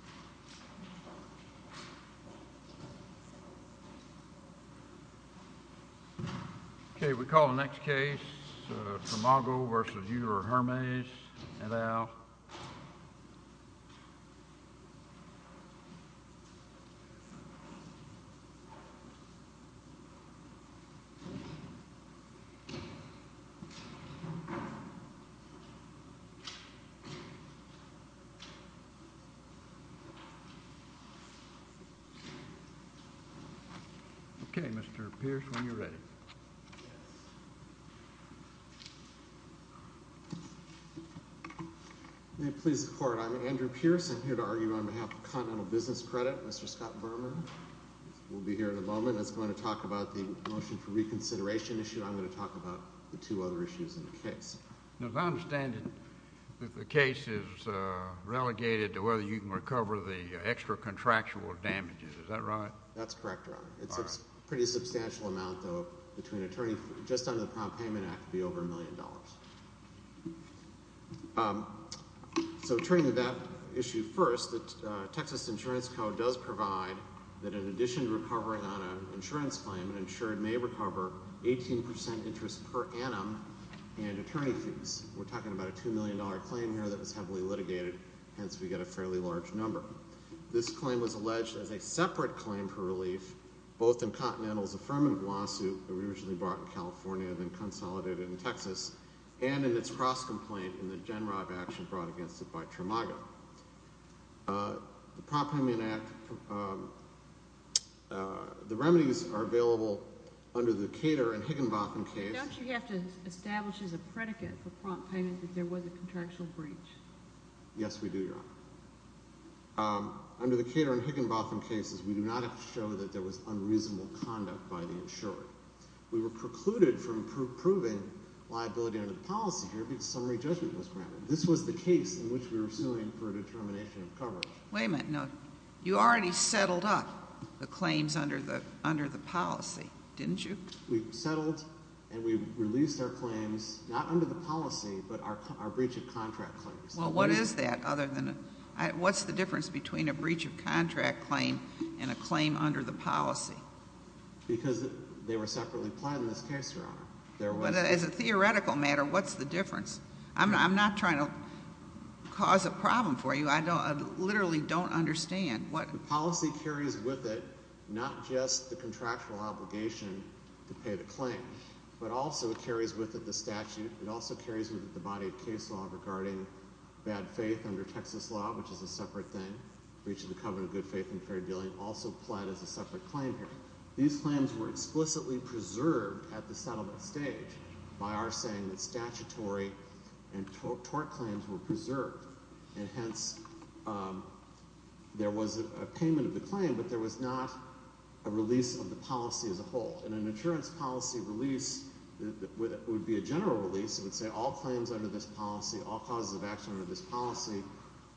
hi, thank you for coming. I'm Andrew Pierce, I'm here to argue on behalf of Continental Business Credit, Mr. Scott Berman. We'll be here in a moment. That's going to talk about the motion for reconsideration issue. I'm going to talk about the two other issues in the case. As I understand it, the case is relegated to whether you can recover the extra contractual damages. Is that right? That's correct, Your Honor. All right. It's a pretty substantial amount, though, between an attorney, just under the Prompt Payment Act, to be over a million dollars. So turning to that issue first, the Texas Insurance Code does provide that in addition to recovering on an insurance claim, an insured may recover 18% interest per annum, and attorney fees. We're talking about a $2 million claim here that was heavily litigated, hence we get a fairly large number. This claim was alleged as a separate claim for relief, both in Continental's affirmative lawsuit that we originally brought in California, then consolidated in Texas, and in its cross-complaint in the Gen Robb action brought against it by Tramago. The Prompt Payment Act, the remedies are available under the Cater and Higginbotham case. Don't you have to establish as a predicate for prompt payment that there was a contractual breach? Yes, we do, Your Honor. Under the Cater and Higginbotham cases, we do not have to show that there was unreasonable conduct by the insurer. We were precluded from proving liability under the policy here because summary judgment was granted. This was the case in which we were suing for a determination of coverage. Wait a minute. You already settled up the claims under the policy, didn't you? We settled and we released our claims, not under the policy, but our breach of contract claims. Well, what is that other than, what's the difference between a breach of contract claim and a claim under the policy? Because they were separately planned in this case, Your Honor. But as a theoretical matter, what's the difference? I'm not trying to cause a problem for you. I literally don't understand what... The policy carries with it not just the contractual obligation to pay the claim, but also it carries with it the statute. It also carries with it the body of case law regarding bad faith under Texas law, which is a separate thing. Breach of the covenant of good faith and fair dealing also pled as a separate claim here. These claims were explicitly preserved at the settlement stage by our saying that statutory and tort claims were preserved. And hence, there was a payment of the claim, but there was not a release of the policy as a whole. In an insurance policy release, it would be a general release, it would say all claims under this policy, all causes of action under this policy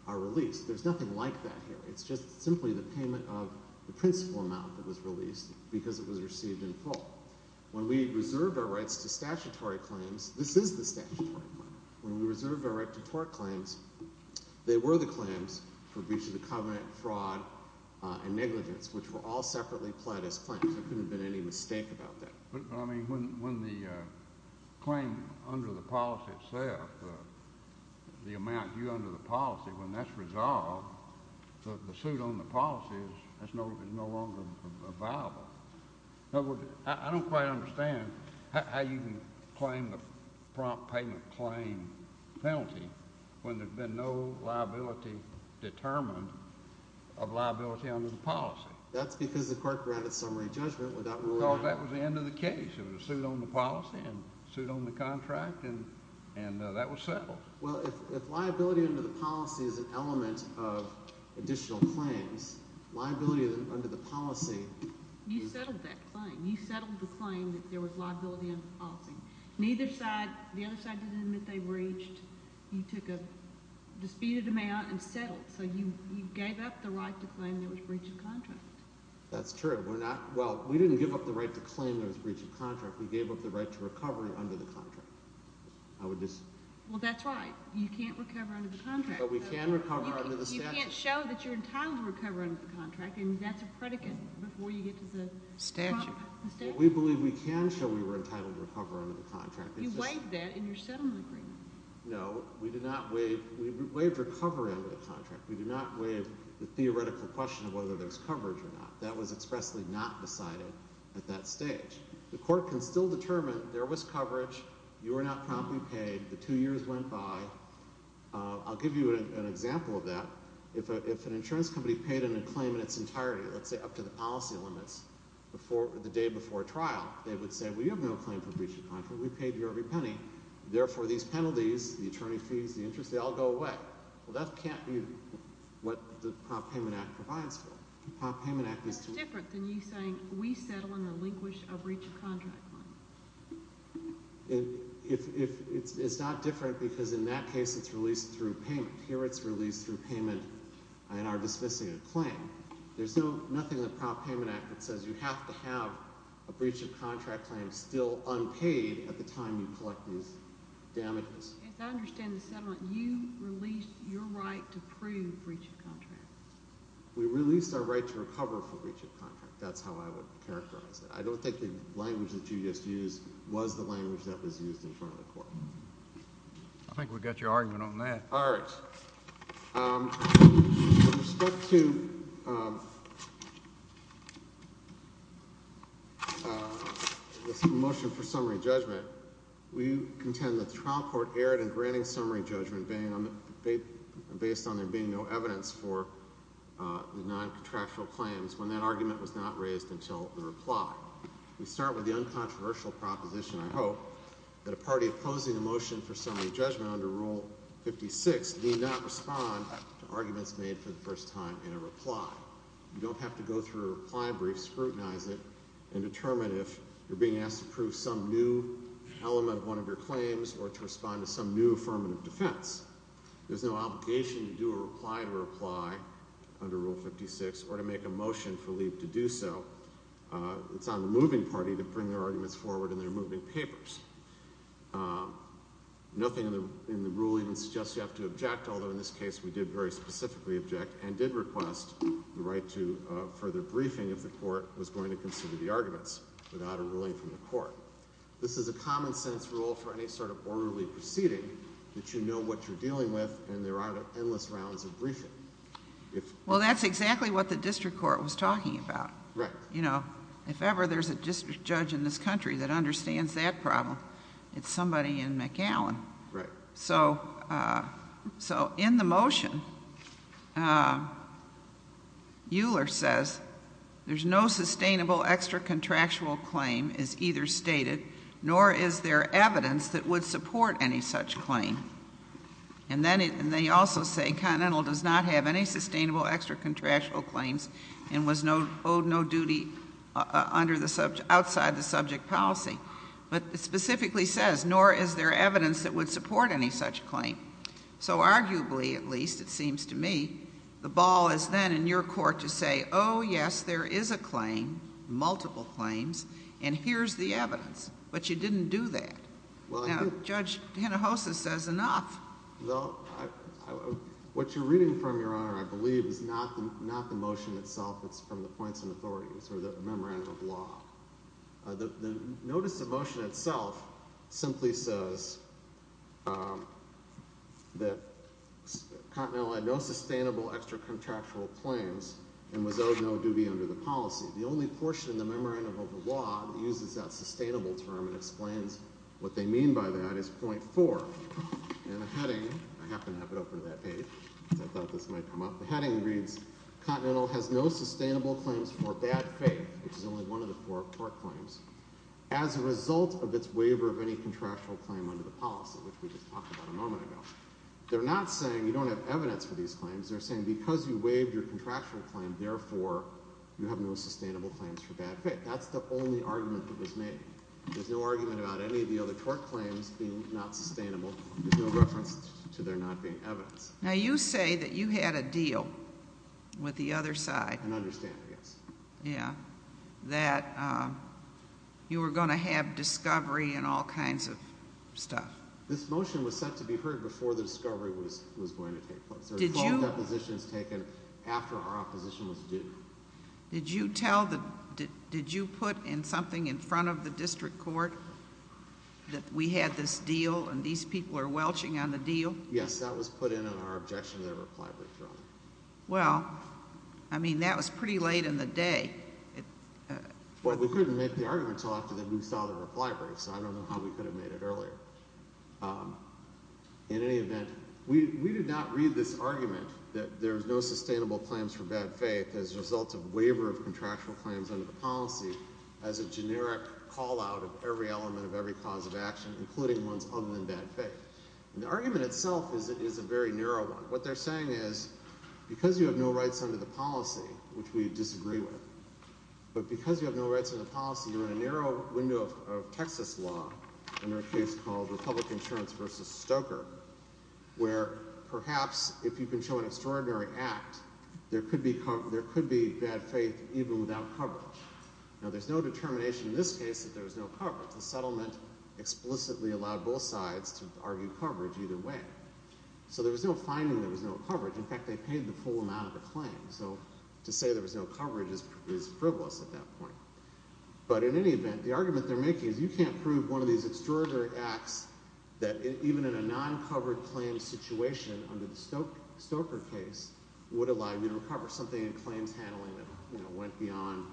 are released. There's nothing like that here. It's just simply the payment of the principal amount that was released because it was received in full. When we reserved our rights to statutory claims, this is the statutory claim. When we reserved our right to tort claims, they were the claims for breach of the covenant, fraud, and negligence, which were all separately pled as claims. There couldn't have been any mistake about that. But I mean, when the claim under the policy itself, the amount due under the policy, when that's resolved, the suit on the policy is no longer viable. I don't quite understand how you can claim the prompt payment claim penalty when there's been no liability determined of liability under the policy. That's because the court granted summary judgment without ruling out. Because that was the end of the case. It was a suit on the policy and a suit on the contract, and that was settled. Well, if liability under the policy is an element of additional claims, liability under the policy is... You settled that claim. You settled the claim that there was liability under the policy. Neither side, the other side didn't admit they breached. You took a dispute of demand and settled. So you gave up the right to claim there was breach of contract. That's true. We're not, well, we didn't give up the right to claim there was breach of contract. We gave up the right to recovery under the contract. I would just... You can't recover under the contract. But we can recover under the statute. You can't show that you're entitled to recover under the contract, and that's a predicate before you get to the... Statute. We believe we can show we were entitled to recover under the contract. You waived that in your settlement agreement. No, we did not waive. We waived recovery under the contract. We did not waive the theoretical question of whether there's coverage or not. That was expressly not decided at that stage. The court can still determine there was coverage. You were not promptly paid. The two years went by. I'll give you an example of that. If an insurance company paid in a claim in its entirety, let's say up to the policy limits the day before trial, they would say, well, you have no claim for breach of contract. We paid your every penny. Therefore, these penalties, the attorney fees, the interest, they all go away. Well, that can't be what the Prop Payment Act provides for. Prop Payment Act is to... That's different than you saying we settle in relinquish of breach of contract claim. It's not different because in that case, it's released through payment. Here, it's released through payment in our dismissing a claim. There's nothing in the Prop Payment Act that says you have to have a breach of contract claim still unpaid at the time you collect these damages. As I understand the settlement, you released your right to prove breach of contract. We released our right to recover for breach of contract. That's how I would characterize it. I don't think the language that you just used was the language that was used in front of the court. I think we got your argument on that. All right. With respect to this motion for summary judgment, we contend that the trial court erred in granting summary judgment based on there being no evidence for the non-contractual claims when that argument was not raised until the reply. We start with the uncontroversial proposition, I hope, that a party opposing the motion for summary judgment under Rule 56 need not respond to arguments made for the first time in a reply. You don't have to go through a reply brief, scrutinize it, and determine if you're being asked to prove some new element of one of your claims or to respond to some new affirmative defense. There's no obligation to do a reply to reply under Rule 56 or to make a motion for leave to do so. It's on the moving party to bring their arguments forward in their moving papers. Nothing in the ruling suggests you have to object, although in this case we did very specifically object and did request the right to further briefing if the court was going to consider the arguments without a ruling from the court. This is a common-sense rule for any sort of orderly proceeding that you know what you're dealing with and there aren't endless rounds of briefing. Well, that's exactly what the district court was talking about. If ever there's a district judge in this country that understands that problem, it's somebody in McAllen. So in the motion, Euler says, there's no sustainable extracontractual claim is either stated nor is there evidence that would support any such claim. And they also say Continental does not have any sustainable extracontractual claims and was owed no duty outside the subject policy. But it specifically says, nor is there evidence that would support any such claim. So arguably, at least it seems to me, the ball is then in your court to say, oh, yes, there is a claim, multiple claims, and here's the evidence. But you didn't do that. Judge Hinojosa says enough. Well, what you're reading from, Your Honor, I believe is not the motion itself. It's from the points and authorities or the memorandum of law. The notice of motion itself simply says that Continental had no sustainable extracontractual claims and was owed no duty under the policy. The only portion in the memorandum of law that uses that sustainable term and explains what they mean by that is point four. And the heading, I happen to have it open to that page because I thought this might come up. The heading reads, Continental has no sustainable claims for bad faith, which is only one of the four court claims, as a result of its waiver of any contractual claim under the policy, which we just talked about a moment ago. They're not saying you don't have evidence for these claims. They're saying because you waived your contractual claim, therefore, you have no sustainable claims for bad faith. That's the only argument that was made. There's no argument about any of the other court claims being not sustainable. There's no reference to there not being evidence. Now, you say that you had a deal with the other side. An understanding, yes. Yeah. That you were going to have discovery and all kinds of stuff. This motion was set to be heard before the discovery was going to take place. There were full depositions taken after our opposition was due. Did you put in something in front of the district court that we had this deal, and these people are welching on the deal? Yes. That was put in on our objection to the reply brief, Your Honor. Well, I mean, that was pretty late in the day. Well, we couldn't make the argument until after we saw the reply brief, so I don't know how we could have made it earlier. In any event, we did not read this argument that there's no sustainable claims for bad faith as a result of waiver of contractual claims under the policy as a generic call out of every element of every cause of action, including one's ugly and bad faith. And the argument itself is a very narrow one. What they're saying is, because you have no rights under the policy, which we disagree with, but because you have no rights in the policy, you're in a narrow window of Texas law, in our case called Republic Insurance versus Stoker, where perhaps if you can show an extraordinary act, there could be bad faith even without coverage. Now, there's no determination in this case that there was no coverage. The settlement explicitly allowed both sides to argue coverage either way. So there was no finding there was no coverage. In fact, they paid the full amount of the claim. So to say there was no coverage is frivolous at that point. But in any event, the argument they're making is you can't prove one of these extraordinary acts that even in a non-covered claim situation under the Stoker case would allow you to cover something in claims handling that went beyond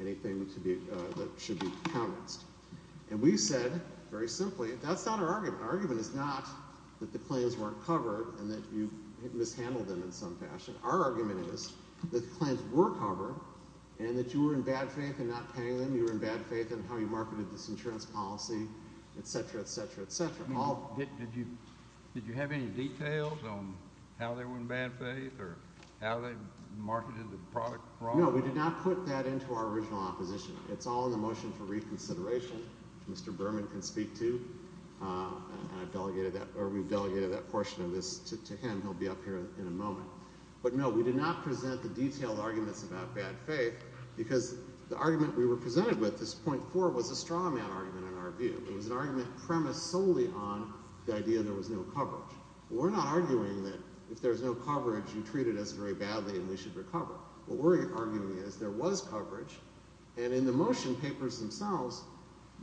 anything that should be countenanced. And we said, very simply, that's not our argument. Our argument is not that the claims weren't covered and that you mishandled them in some fashion. Our argument is that the claims were covered and that you were in bad faith in not paying attention to the evidence, policy, et cetera, et cetera, et cetera. Did you have any details on how they were in bad faith or how they marketed the product? No, we did not put that into our original opposition. It's all in the motion for reconsideration. Mr. Berman can speak to, and we've delegated that portion of this to him. He'll be up here in a moment. But no, we did not present the detailed arguments about bad faith because the argument we were arguing was an argument premised solely on the idea there was no coverage. We're not arguing that if there's no coverage, you treat it as very badly and we should recover. What we're arguing is there was coverage, and in the motion papers themselves,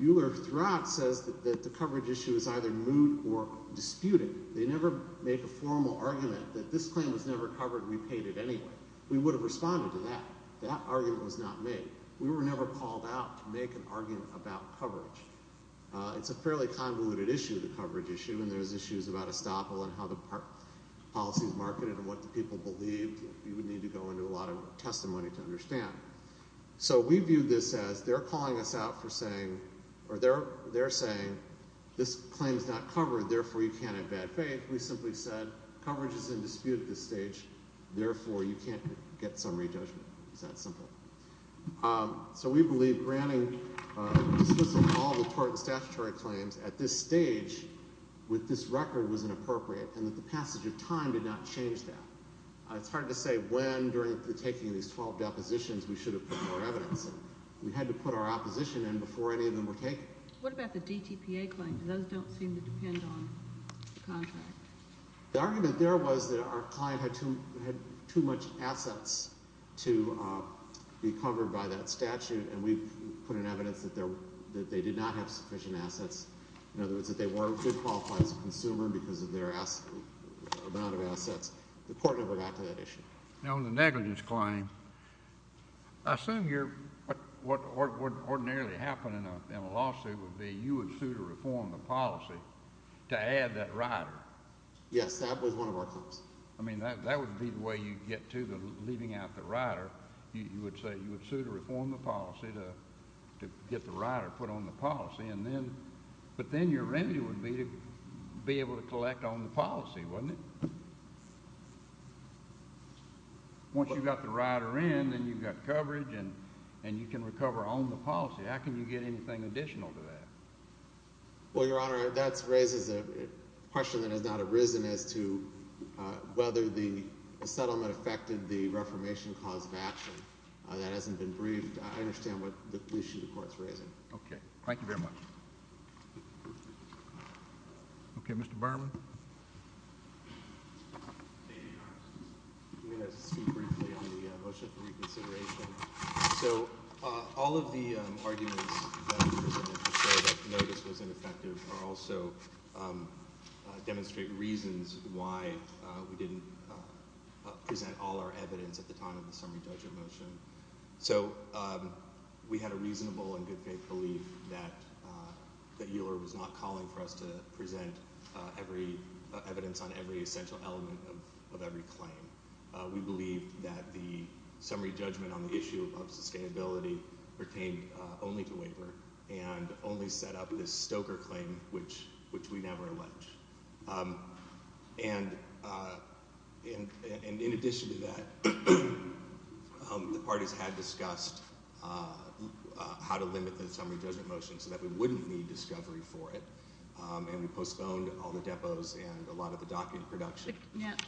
Euler-Thrott says that the coverage issue is either moot or disputed. They never make a formal argument that this claim was never covered and we paid it anyway. We would have responded to that. That argument was not made. We were never called out to make an argument about coverage. It's a fairly convoluted issue, the coverage issue, and there's issues about estoppel and how the policy is marketed and what the people believe. You would need to go into a lot of testimony to understand. So we viewed this as they're calling us out for saying, or they're saying this claim is not covered, therefore you can't have bad faith. We simply said coverage is in dispute at this stage, therefore you can't get summary judgment. It's that simple. So we believe granting, dismissing all the tort and statutory claims at this stage with this record was inappropriate and that the passage of time did not change that. It's hard to say when during the taking of these 12 depositions we should have put more evidence in. We had to put our opposition in before any of them were taken. What about the DTPA claims? Those don't seem to depend on the contract. The argument there was that our client had too much assets to be covered by that statute and we put in evidence that they did not have sufficient assets. In other words, that they weren't good qualified as a consumer because of their amount of assets. The court never got to that issue. Now on the negligence claim, I assume what would ordinarily happen in a lawsuit would be you would sue to reform the policy to add that rider. Yes, that was one of our claims. I mean, that would be the way you get to the leaving out the rider. You would say you would sue to reform the policy to get the rider put on the policy and then, but then your remedy would be to be able to collect on the policy, wouldn't it? Once you've got the rider in, then you've got coverage and you can recover on the policy. How can you get anything additional to that? Well, Your Honor, that raises a question that has not arisen as to whether the settlement affected the reformation cause of action. That hasn't been briefed. I understand what the issue the court's raising. Okay. Thank you very much. Okay, Mr. Berman. I'm going to speak briefly on the motion for reconsideration. So all of the arguments that I presented to show that no, this was ineffective are also demonstrate reasons why we didn't present all our evidence at the time of the summary judgment motion. So we had a reasonable and good faith belief that that Euler was not calling for us to present every evidence on every essential element of every claim. We believe that the summary judgment on the issue of sustainability pertained only to waiver and only set up this Stoker claim, which we never allege. And in addition to that, the parties had discussed how to limit the summary judgment motion so that we wouldn't need discovery for it. And we postponed all the depots and a lot of the docket production.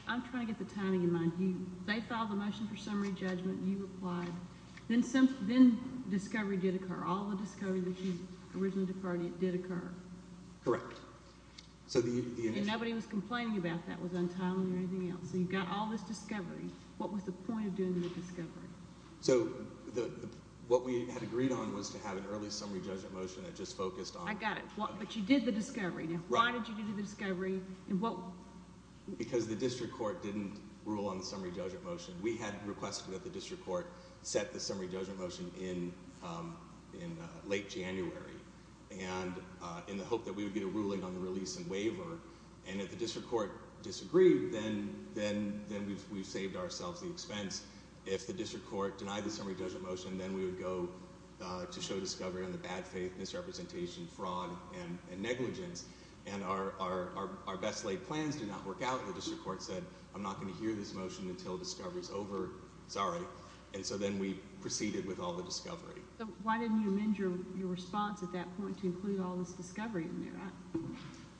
I'm trying to get the timing in mind. You they filed a motion for summary judgment. You replied. Then since then, discovery did occur. All the discovery that you originally departed did occur. Correct. So nobody was complaining about that was untimely or anything else. So you've got all this discovery. What was the point of doing the discovery? So what we had agreed on was to have an early summary judgment motion that just focused on. I got it. But you did the discovery. Now, why did you do the discovery? Well, because the district court didn't rule on the summary judgment motion. We had requested that the district court set the summary judgment motion in late January and in the hope that we would get a ruling on the release and waiver. And if the district court disagreed, then we've saved ourselves the expense. If the district court denied the summary judgment motion, then we would go to show discovery on the bad faith, misrepresentation, fraud and negligence. And our best laid plans did not work out. The district court said, I'm not going to hear this motion until discovery is over. Sorry. And so then we proceeded with all the discovery. Why didn't you amend your response at that point to include all this discovery in there?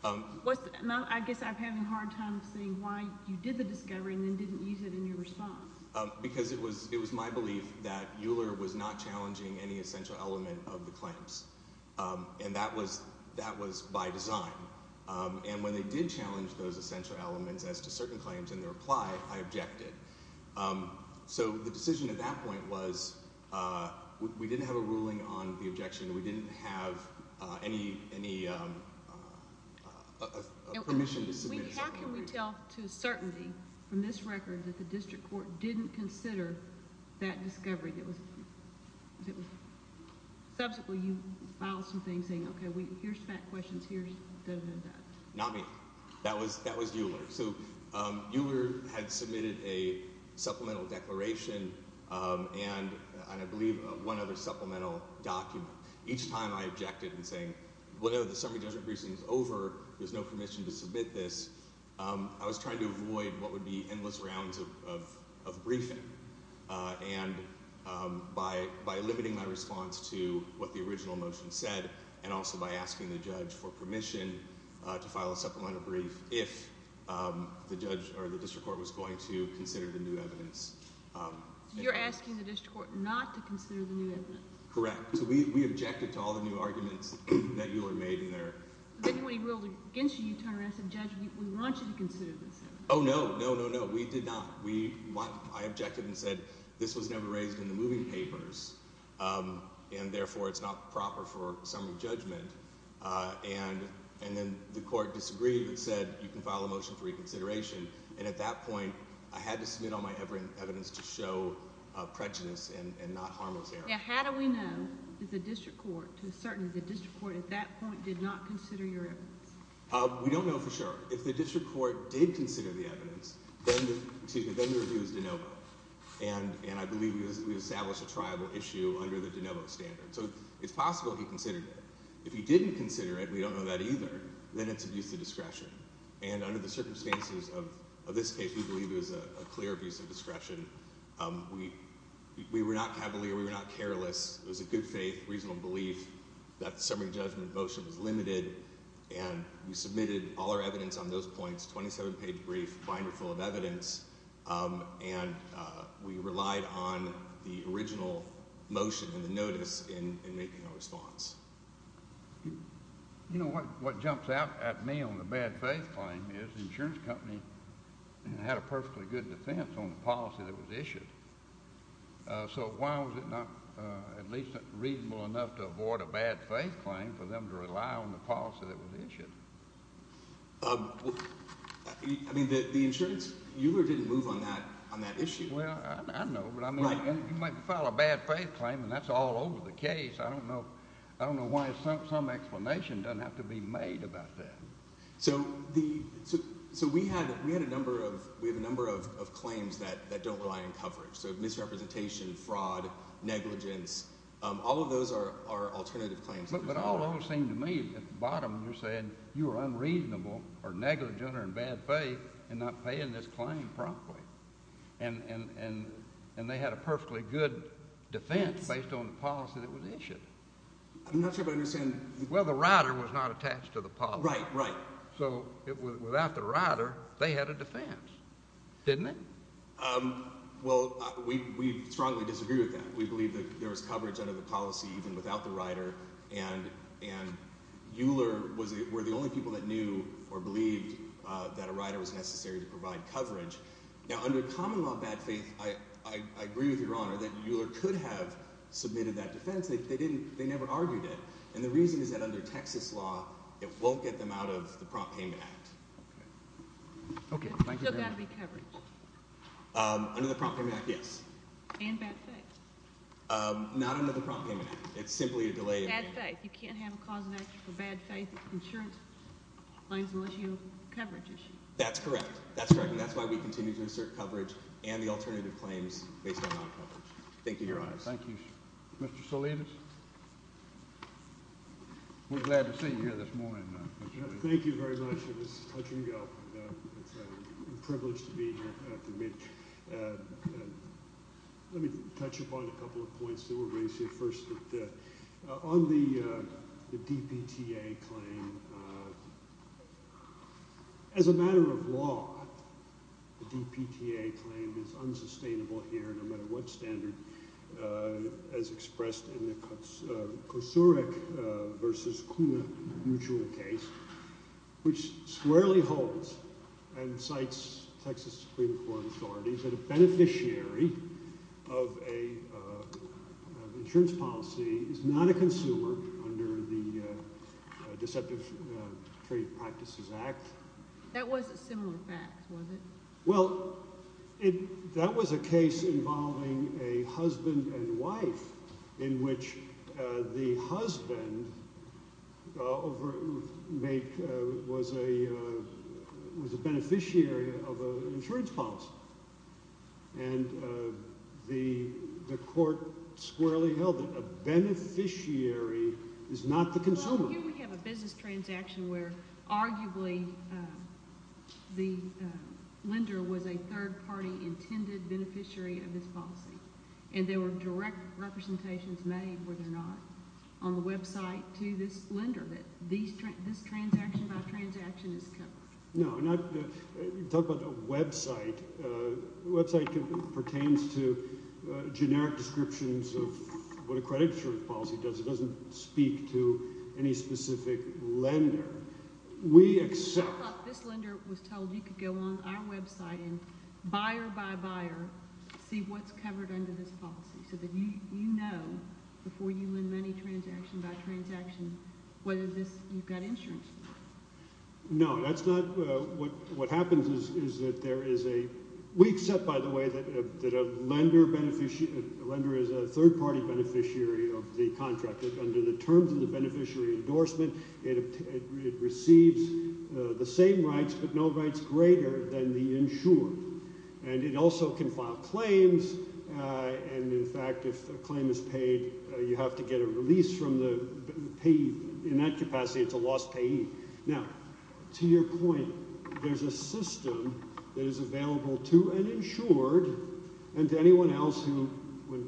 I guess I'm having a hard time seeing why you did the discovery and then didn't use it in your response. Because it was my belief that Euler was not challenging any essential element of the claims. And that was that was by design. And when they did challenge those essential elements as to certain claims in the reply, I objected. So the decision at that point was we didn't have a ruling on the objection. We didn't have any permission to submit. How can we tell to certainty from this record that the district court didn't consider that discovery? Subsequently, you filed something saying, OK, here's fact questions. Here's this and that. Not me. That was that was Euler. So Euler had submitted a supplemental declaration and I believe one other supplemental document. Each time I objected and saying, whatever the summary judgment briefing is over, there's no permission to submit this. I was trying to avoid what would be endless rounds of briefing. And by limiting my response to what the original motion said and also by asking the judge for permission to file a supplemental brief if the judge or the district court was going to consider the new evidence. You're asking the district court not to consider the new evidence? Correct. So we objected to all the new arguments that Euler made in there. But then when he ruled against you, you turned around and said, judge, we want you to consider this. Oh, no, no, no, no. We did not. I objected and said this was never raised in the moving papers and therefore it's not proper for summary judgment. And then the court disagreed and said, you can file a motion for reconsideration. And at that point, I had to submit all my evidence to show prejudice and not harmless error. How do we know that the district court, to a certain extent, the district court at that point did not consider your evidence? We don't know for sure. If the district court did consider the evidence, then the review is de novo. And I believe we established a tribal issue under the de novo standard. So it's possible he considered it. If he didn't consider it, we don't know that either. Then it's abuse of discretion. And under the circumstances of this case, we believe it was a clear abuse of discretion. We were not cavalier. We were not careless. It was a good faith, reasonable belief that the summary judgment motion was limited. And we submitted all our evidence on those points, 27-page brief, binder full of evidence. And we relied on the original motion and the notice in making a response. You know, what jumps out at me on the bad faith claim is the insurance company had a perfectly good defense on the policy that was issued. So why was it not at least reasonable enough to avoid a bad faith claim for them to rely on the policy that was issued? I mean, the insurance, you didn't move on that issue? Well, I don't know. But I mean, you might file a bad faith claim, and that's all over the case. I don't know. I don't know why some explanation doesn't have to be made about that. So we had a number of claims that don't rely on coverage. So misrepresentation, fraud, negligence, all of those are alternative claims. But all those seem to me, at the bottom, you're saying you were unreasonable or negligent or in bad faith in not paying this claim promptly. And they had a perfectly good defense based on the policy that was issued. I'm not sure if I understand. Well, the rider was not attached to the policy. Right, right. So without the rider, they had a defense, didn't they? Well, we strongly disagree with that. We believe that there was coverage under the policy even without the rider. And Euler were the only people that knew or believed that a rider was necessary to provide coverage. Now, under common law, bad faith, I agree with Your Honor that Euler could have submitted that defense. They didn't. They never argued it. And the reason is that under Texas law, it won't get them out of the Prompt Payment Act. OK, thank you very much. Still got to be covered. Under the Prompt Payment Act, yes. And bad faith. Not under the Prompt Payment Act. It's simply a delay. Bad faith. You can't have a cause of action for bad faith insurance claims unless you have coverage issued. That's correct. That's correct. And that's why we continue to assert coverage and the alternative claims based on non-coverage. Thank you, Your Honor. Thank you, Mr. Salinas. We're glad to see you here this morning. Thank you very much. It was touching up. It's a privilege to be here after mid. And let me touch upon a couple of points that were raised here first. On the DPTA claim, as a matter of law, the DPTA claim is unsustainable here, no matter what standard, as expressed in the Kosurik versus Kuna mutual case, which squarely holds and cites Texas Supreme Court authorities that a beneficiary of an insurance policy is not a consumer under the Deceptive Trade Practices Act. That was a similar fact, was it? Well, that was a case involving a husband and wife in which the husband was a beneficiary of an insurance policy. And the court squarely held that a beneficiary is not the consumer. Here we have a business transaction where arguably the lender was a third-party intended beneficiary of this policy. And there were direct representations made, were there not, on the website to this lender that this transaction-by-transaction is covered. No, talk about the website. The website pertains to generic descriptions of what a credit insurance policy does. It doesn't speak to any specific lender. We accept- I thought this lender was told you could go on our website and buyer-by-buyer see what's covered under this policy, so that you know before you lend money transaction-by-transaction whether you've got insurance. No, that's not- what happens is that there is a- we accept, by the way, that a lender is a third-party beneficiary of the contract. Under the terms of the beneficiary endorsement, it receives the same rights, but no rights greater than the insured. And it also can file claims. And in fact, if a claim is paid, you have to get a release from the payee. In that capacity, it's a lost payee. Now, to your point, there's a system that is available to an insured and to anyone else who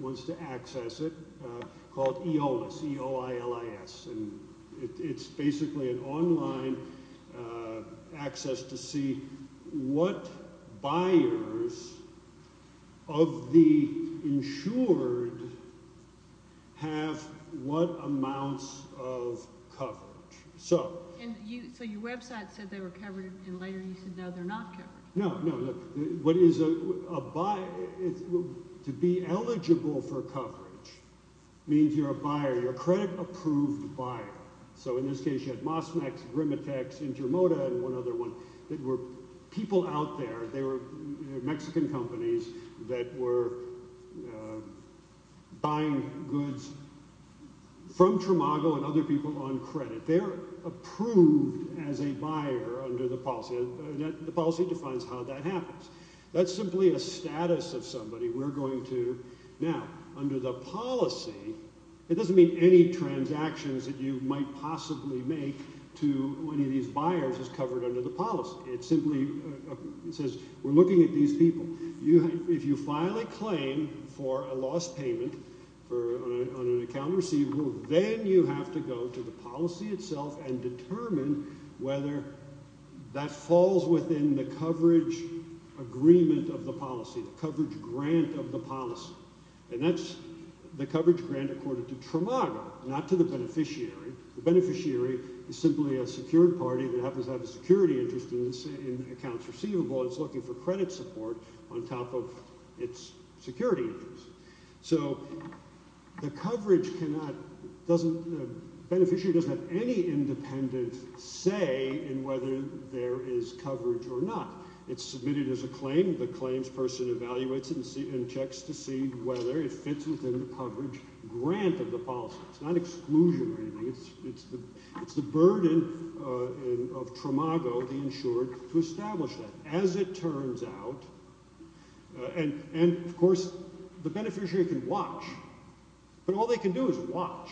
wants to access it called EOLIS, E-O-I-L-I-S. And it's basically an online access to see what buyers of the insured have what amounts of coverage. So- And you- so your website said they were covered, and later you said no, they're not covered. No, no. Look, what is a- to be eligible for coverage means you're a buyer, you're a credit-approved buyer. So in this case, you had Mosmax, Grimatex, Intermoda, and one other one that were people out there. They were Mexican companies that were buying goods from Tramago and other people on credit. They're approved as a buyer under the policy. The policy defines how that happens. That's simply a status of somebody. We're going to- now, under the policy, it doesn't mean any transactions that you might possibly make to any of these buyers is covered under the policy. It simply says, we're looking at these people. If you file a claim for a lost payment on an account receivable, then you have to go to the policy itself and determine whether that falls within the coverage agreement of the policy, the coverage grant of the policy. And that's the coverage grant according to Tramago, not to the beneficiary. The beneficiary is simply a secured party that happens to have a security interest in accounts receivable and is looking for credit support on top of its security interest. So the coverage cannot- beneficiary doesn't have any independent say in whether there is coverage or not. It's submitted as a claim. The claims person evaluates it and checks to see whether it fits within the coverage grant of the policy. It's not exclusion or anything. It's the burden of Tramago, the insured, to establish that. As it turns out, and of course, the beneficiary can watch. But all they can do is watch.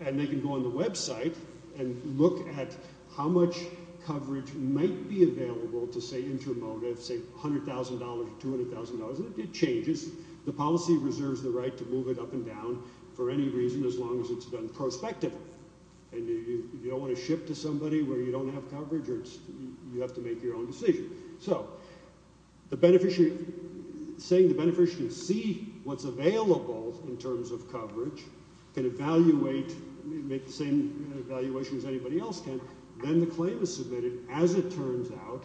And they can go on the website and look at how much coverage might be available to say Intermotive, say $100,000 or $200,000, and it changes. The policy reserves the right to move it up and down for any reason as long as it's done prospectively. And you don't want to ship to somebody where you don't have coverage or you have to make your own decision. So the beneficiary- saying the beneficiary can see what's available in terms of coverage, can evaluate- make the same evaluation as anybody else can. Then the claim is submitted. As it turns out,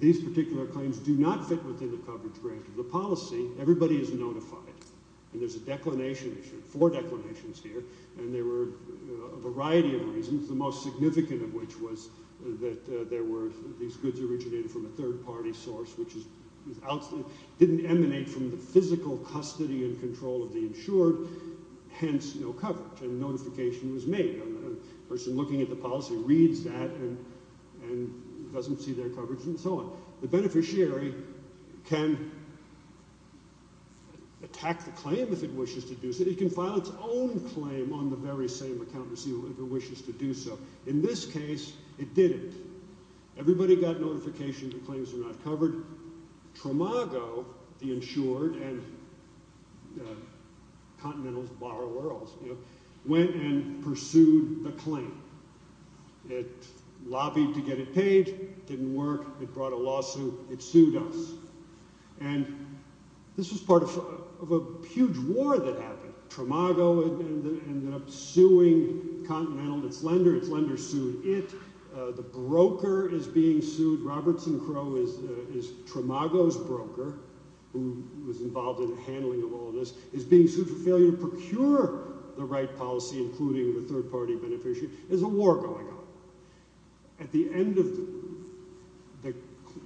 these particular claims do not fit within the coverage grant of the policy. Everybody is notified. And there's a declination issue- four declinations here. And there were a variety of reasons. The most significant of which was that there were- these goods originated from a third party source, which didn't emanate from the physical custody and control of the insured, hence no coverage. And notification was made. And the person looking at the policy reads that and doesn't see their coverage and so on. The beneficiary can attack the claim if it wishes to do so. It can file its own claim on the very same account receiver if it wishes to do so. In this case, it didn't. Everybody got notification the claims were not covered. Tramago, the insured, and Continentals borrow earls, went and pursued the claim. It lobbied to get it paid. Didn't work. It brought a lawsuit. It sued us. And this was part of a huge war that happened. Tramago ended up suing Continental, its lender. Its lender sued it. The broker is being sued. Roberts and Crow is Tramago's broker, who was involved in the handling of all of this, is being sued for failure to procure the right policy, including the third party beneficiary. There's a war going on. At the end of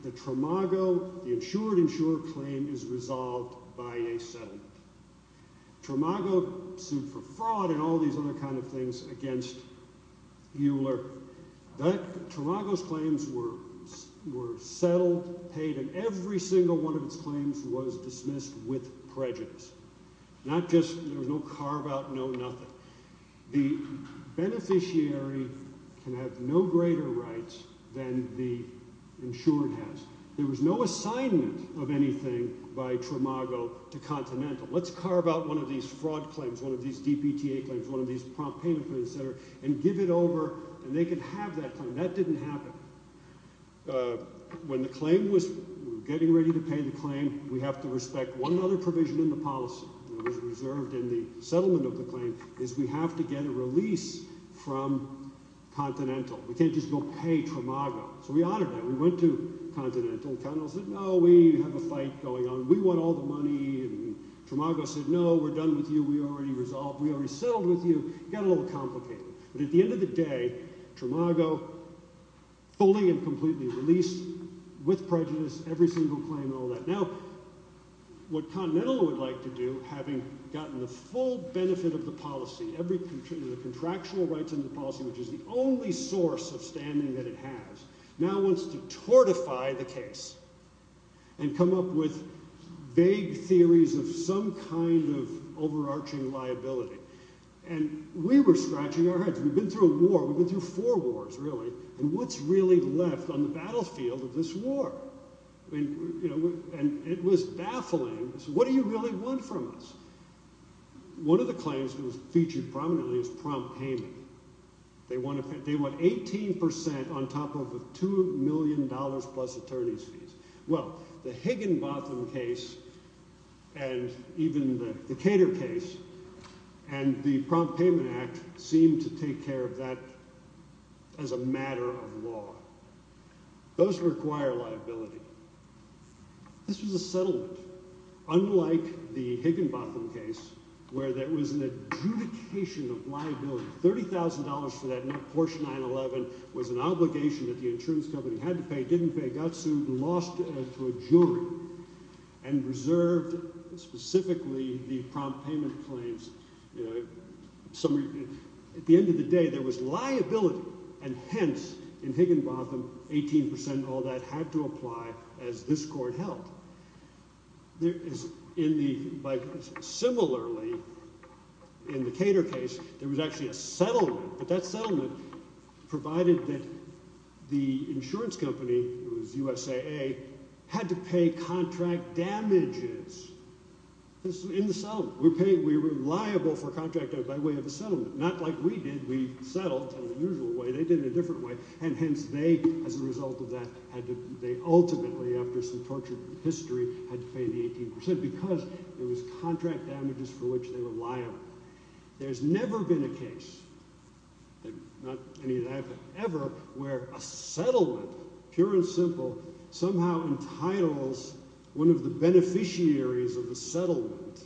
the Tramago, the insured insurer claim is resolved by a settlement. Tramago sued for fraud and all these other kind of things against Euler. Tramago's claims were settled, paid, and every single one of its claims was dismissed with prejudice. Not just, there was no carve out, no nothing. The beneficiary can have no greater rights than the insured has. There was no assignment of anything by Tramago to Continental. Let's carve out one of these fraud claims, one of these DPTA claims, one of these prompt payment claims, et cetera, and give it over, and they can have that claim. That didn't happen. When the claim was getting ready to pay the claim, we have to respect one other provision in the policy that was reserved in the settlement of the claim, is we have to get a release from Continental. We can't just go pay Tramago. So we honored that. We went to Continental. Continental said, no, we have a fight going on. We want all the money. And Tramago said, no, we're done with you. We already resolved. We already settled with you. It got a little complicated. But at the end of the day, Tramago fully and completely released with prejudice every single claim and all that. Now what Continental would like to do, having gotten the full benefit of the policy, the contractual rights in the policy, which is the only source of standing that it has, now wants to tortify the case and come up with vague theories of some kind of overarching liability. And we were scratching our heads. We've been through a war. We've been through four wars, really. And what's really left on the battlefield of this war? I mean, it was baffling. What do you really want from us? One of the claims that was featured prominently is prompt payment. They want 18% on top of a $2 million plus attorney's fees. Well, the Higginbotham case and even the Cater case and the Prompt Payment Act seem to take care of that as a matter of law. Those require liability. This was a settlement, unlike the Higginbotham case, where there was an adjudication of liability. $30,000 for that Porsche 911 was an obligation that the insurance company had to pay, didn't pay, got sued, lost to a jury, and reserved specifically the prompt payment claims. You know, at the end of the day, there was liability. And hence, in Higginbotham, 18% of all that had to apply as this court held. Similarly, in the Cater case, there was actually a settlement. But that settlement provided that the insurance company, it was USAA, had to pay contract damages in the settlement. We were liable for contract damage by way of a settlement. Not like we did. We settled in the usual way. They did it a different way. And hence, they, as a result of that, they ultimately, after some tortured history, had to pay the 18% because there was contract damages for which they were liable. There's never been a case, not any that ever, where a settlement, pure and simple, somehow entitles one of the beneficiaries of the settlement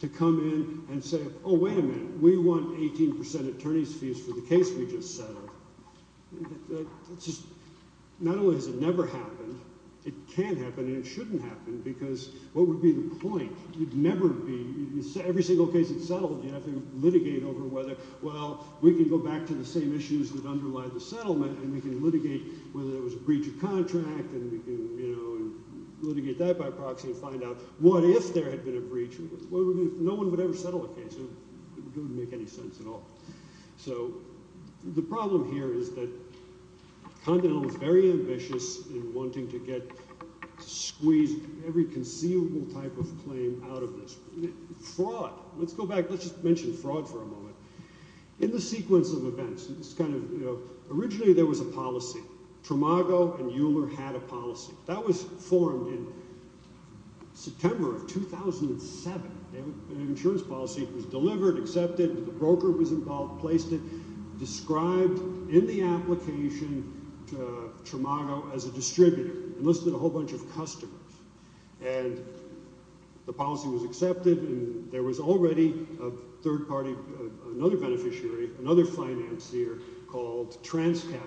to come in and say, oh, wait a minute, we want 18% attorney's fees for the case we just settled. Not only has it never happened, it can happen and it shouldn't happen because what would be the point? You'd never be, every single case that's settled, you have to litigate over whether, well, we can go back to the same issues that underlie the settlement and we can litigate whether there was a breach of contract and we can litigate that by proxy and find out what if there had been a breach. No one would ever settle a case. It wouldn't make any sense at all. So the problem here is that Continental is very ambitious in wanting to squeeze every conceivable type of claim out of this. Fraud. Let's go back. Let's just mention fraud for a moment. In the sequence of events, originally there was a policy. Tramago and Euler had a policy. That was formed in September of 2007. Insurance policy was delivered, accepted, the broker was involved, placed it, described in the application Tramago as a distributor, enlisted a whole bunch of customers. And the policy was accepted and there was already a third party, another beneficiary, another financier called TransCap.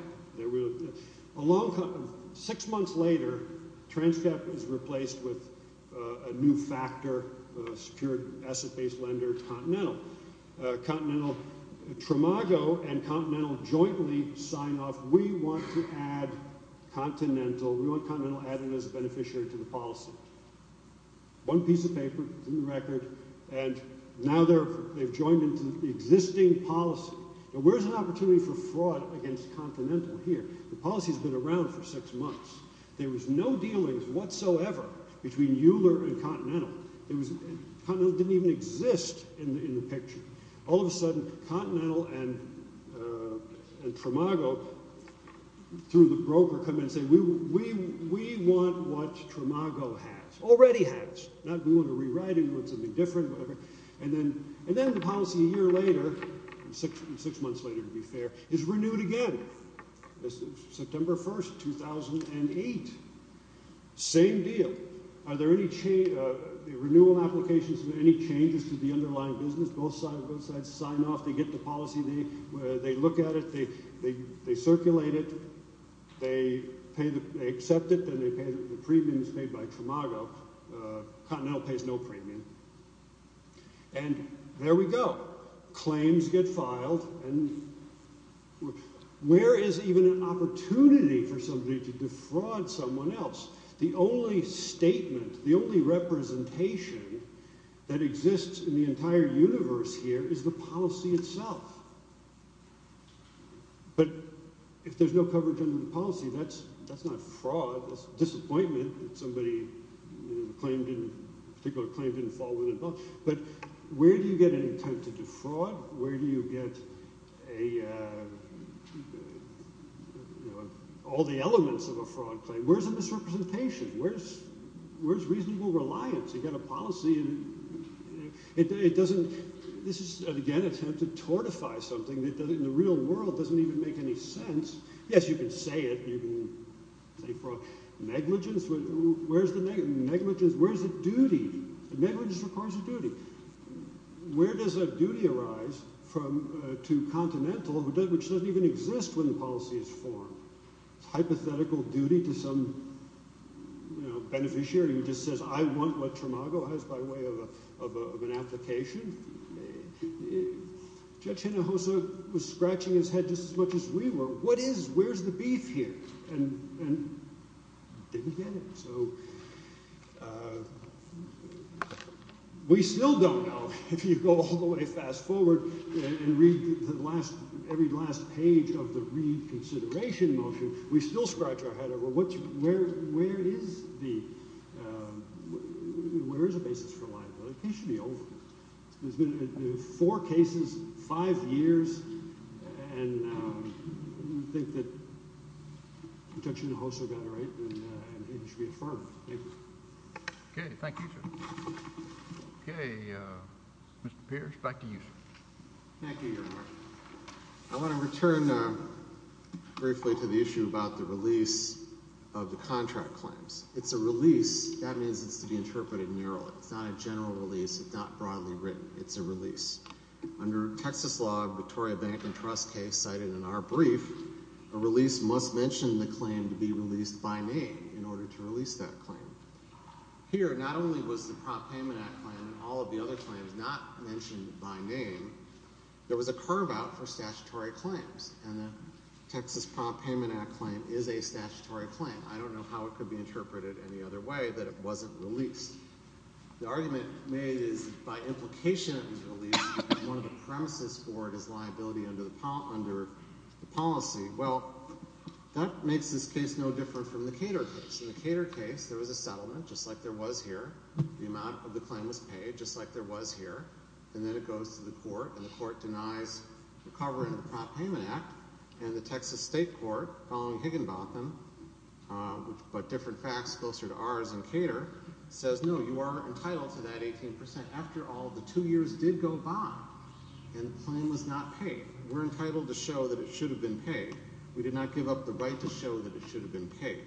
Six months later, TransCap is replaced with a new factor, a secure asset-based lender, Continental. Continental, Tramago and Continental jointly sign off, we want to add Continental, we want to add Tramago, we want to add Continental, we want to add Tramago, we want to add Tramago. And now they've joined into the existing policy. Now where's an opportunity for fraud against Continental here? The policy's been around for six months. There was no dealings whatsoever between Euler and Continental. Continental didn't even exist in the picture. All of a sudden, Continental and Tramago, through the broker, come in and say we want what Tramago has, already has, not doing a rewriting, we want something different, whatever. And then the policy a year later, six months later to be fair, is renewed again. September 1st, 2008, same deal. Are there any renewal applications, any changes to the underlying business? Both sides sign off, they get the policy, they look at it, they circulate it, they accept it, then they pay the premiums made by Tramago. Continental pays no premium. And there we go. Claims get filed, and where is even an opportunity for somebody to defraud someone else? The only statement, the only representation that exists in the entire universe here is the policy itself. But if there's no coverage under the policy, that's not fraud, that's disappointment that somebody, a particular claim didn't fall within bounds. But where do you get an attempt to defraud? Where do you get all the elements of a fraud claim? Where's the misrepresentation? Where's reasonable reliance? You've got a policy and it doesn't, this is again an attempt to tortify somebody. It doesn't, in the real world, doesn't even make any sense. Yes, you can say it, you can say fraud. Negligence, where's the, negligence, where's the duty? Negligence requires a duty. Where does that duty arise from, to Continental, which doesn't even exist when the policy is formed? It's hypothetical duty to some, you know, beneficiary who just says, I want what Tramago has by way of an application. Judge Hinojosa was scratching his head just as much as we were. What is, where's the beef here? And didn't get it. So we still don't know, if you go all the way fast forward and read the last, every last page of the reconsideration motion, we still scratch our head over what, where, where is the, where is the basis for liability? The case should be over. There's been four cases, five years, and you think that Judge Hinojosa got it right, then it should be affirmed. Thank you. Okay, thank you, sir. Okay, Mr. Pierce, back to you, sir. Thank you, Your Honor. I want to return briefly to the issue about the release of the contract claims. It's a release. That means it's to be interpreted narrowly. It's not a general release. It's not broadly written. It's a release. Under Texas law, the Victoria Bank and Trust case cited in our brief, a release must mention the claim to be released by name in order to release that claim. Here, not only was the Prop Payment Act claim and all of the other claims not mentioned by name, there was a curve out for statutory claims. And the Texas Prop Payment Act claim is a statutory claim. I don't know how it could be interpreted any other way that it wasn't released. The argument made is that by implication of the release, one of the premises for it is liability under the policy. Well, that makes this case no different from the Cater case. In the Cater case, there was a settlement, just like there was here. The amount of the claim was paid, just like there was here. And then it goes to the court, and the court denies the cover in the Prop Payment Act. And the Texas State Court, following Higginbotham, but different facts closer to ours in Cater, says, no, you are entitled to that 18%. After all, the two years did go by, and the claim was not paid. We're entitled to show that it should have been paid. We did not give up the right to show that it should have been paid.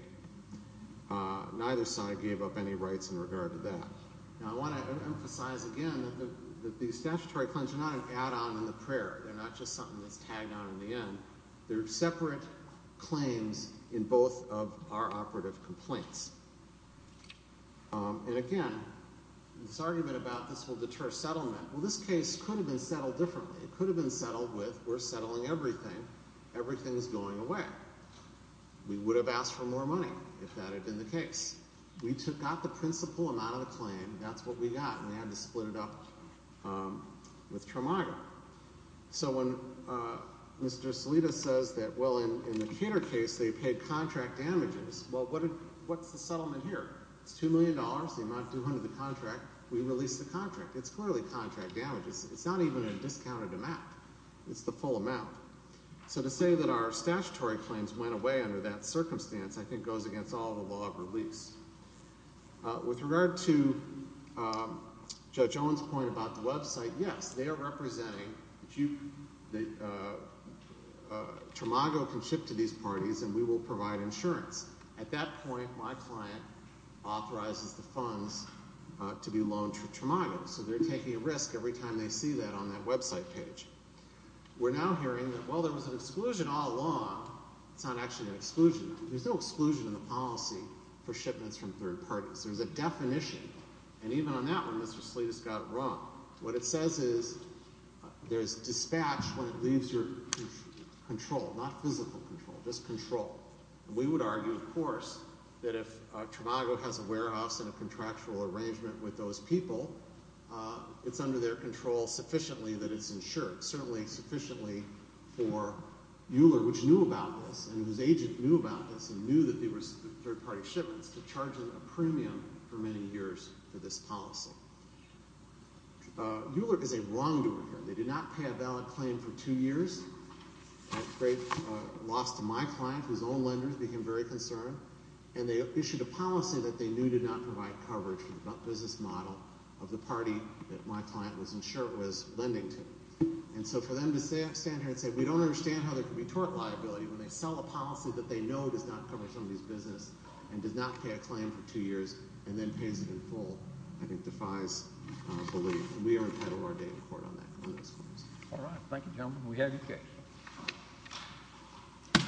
Neither side gave up any rights in regard to that. Now, I want to emphasize again that the statutory claims are not an add-on in the prayer. They're not just something that's tagged on in the end. They're separate claims in both of our operative complaints. And again, this argument about this will deter settlement. Well, this case could have been settled differently. It could have been settled with, we're settling everything, everything's going away. We would have asked for more money if that had been the case. We took out the principal amount of the claim. That's what we got, and we had to split it up with Tramago. So when Mr. Salidas says that, well, in the Cater case, they paid contract damages, well, what's the settlement here? It's $2 million, the amount due under the contract. We release the contract. It's clearly contract damages. It's not even a discounted amount. It's the full amount. So to say that our statutory claims went away under that circumstance, I think goes against all the law of release. With regard to Judge Owen's point about the website, yes, they are representing, Tramago can ship to these parties, and we will provide insurance. At that point, my client authorizes the funds to be loaned to Tramago. So they're taking a risk every time they see that on that website page. We're now hearing that, well, there was an exclusion all along. It's not actually an exclusion. There's no exclusion in the policy for shipments from third parties. There's a definition, and even on that one, Mr. Salidas got it wrong. What it says is, there's dispatch when it leaves your control, not physical control, just control. We would argue, of course, that if Tramago has a warehouse and a contractual arrangement with those people, it's under their control sufficiently that it's insured, certainly sufficiently for Euler, which knew about this and whose agent knew about this and knew that they were third-party shipments, to charge them a premium for many years for this policy. Euler is a wrongdoer here. They did not pay a valid claim for two years. At great loss to my client, whose own lender became very concerned, and they issued a policy that they knew did not provide coverage for the business model of the party that my client was insured was lending to. And so for them to stand here and say, we don't understand how there can be tort liability when they sell a policy that they know does not cover somebody's business and does not pay a claim for two years and then pays it in full, I think defies belief. We are entitled to our day in court on that. All right. Thank you, gentlemen. We have your case.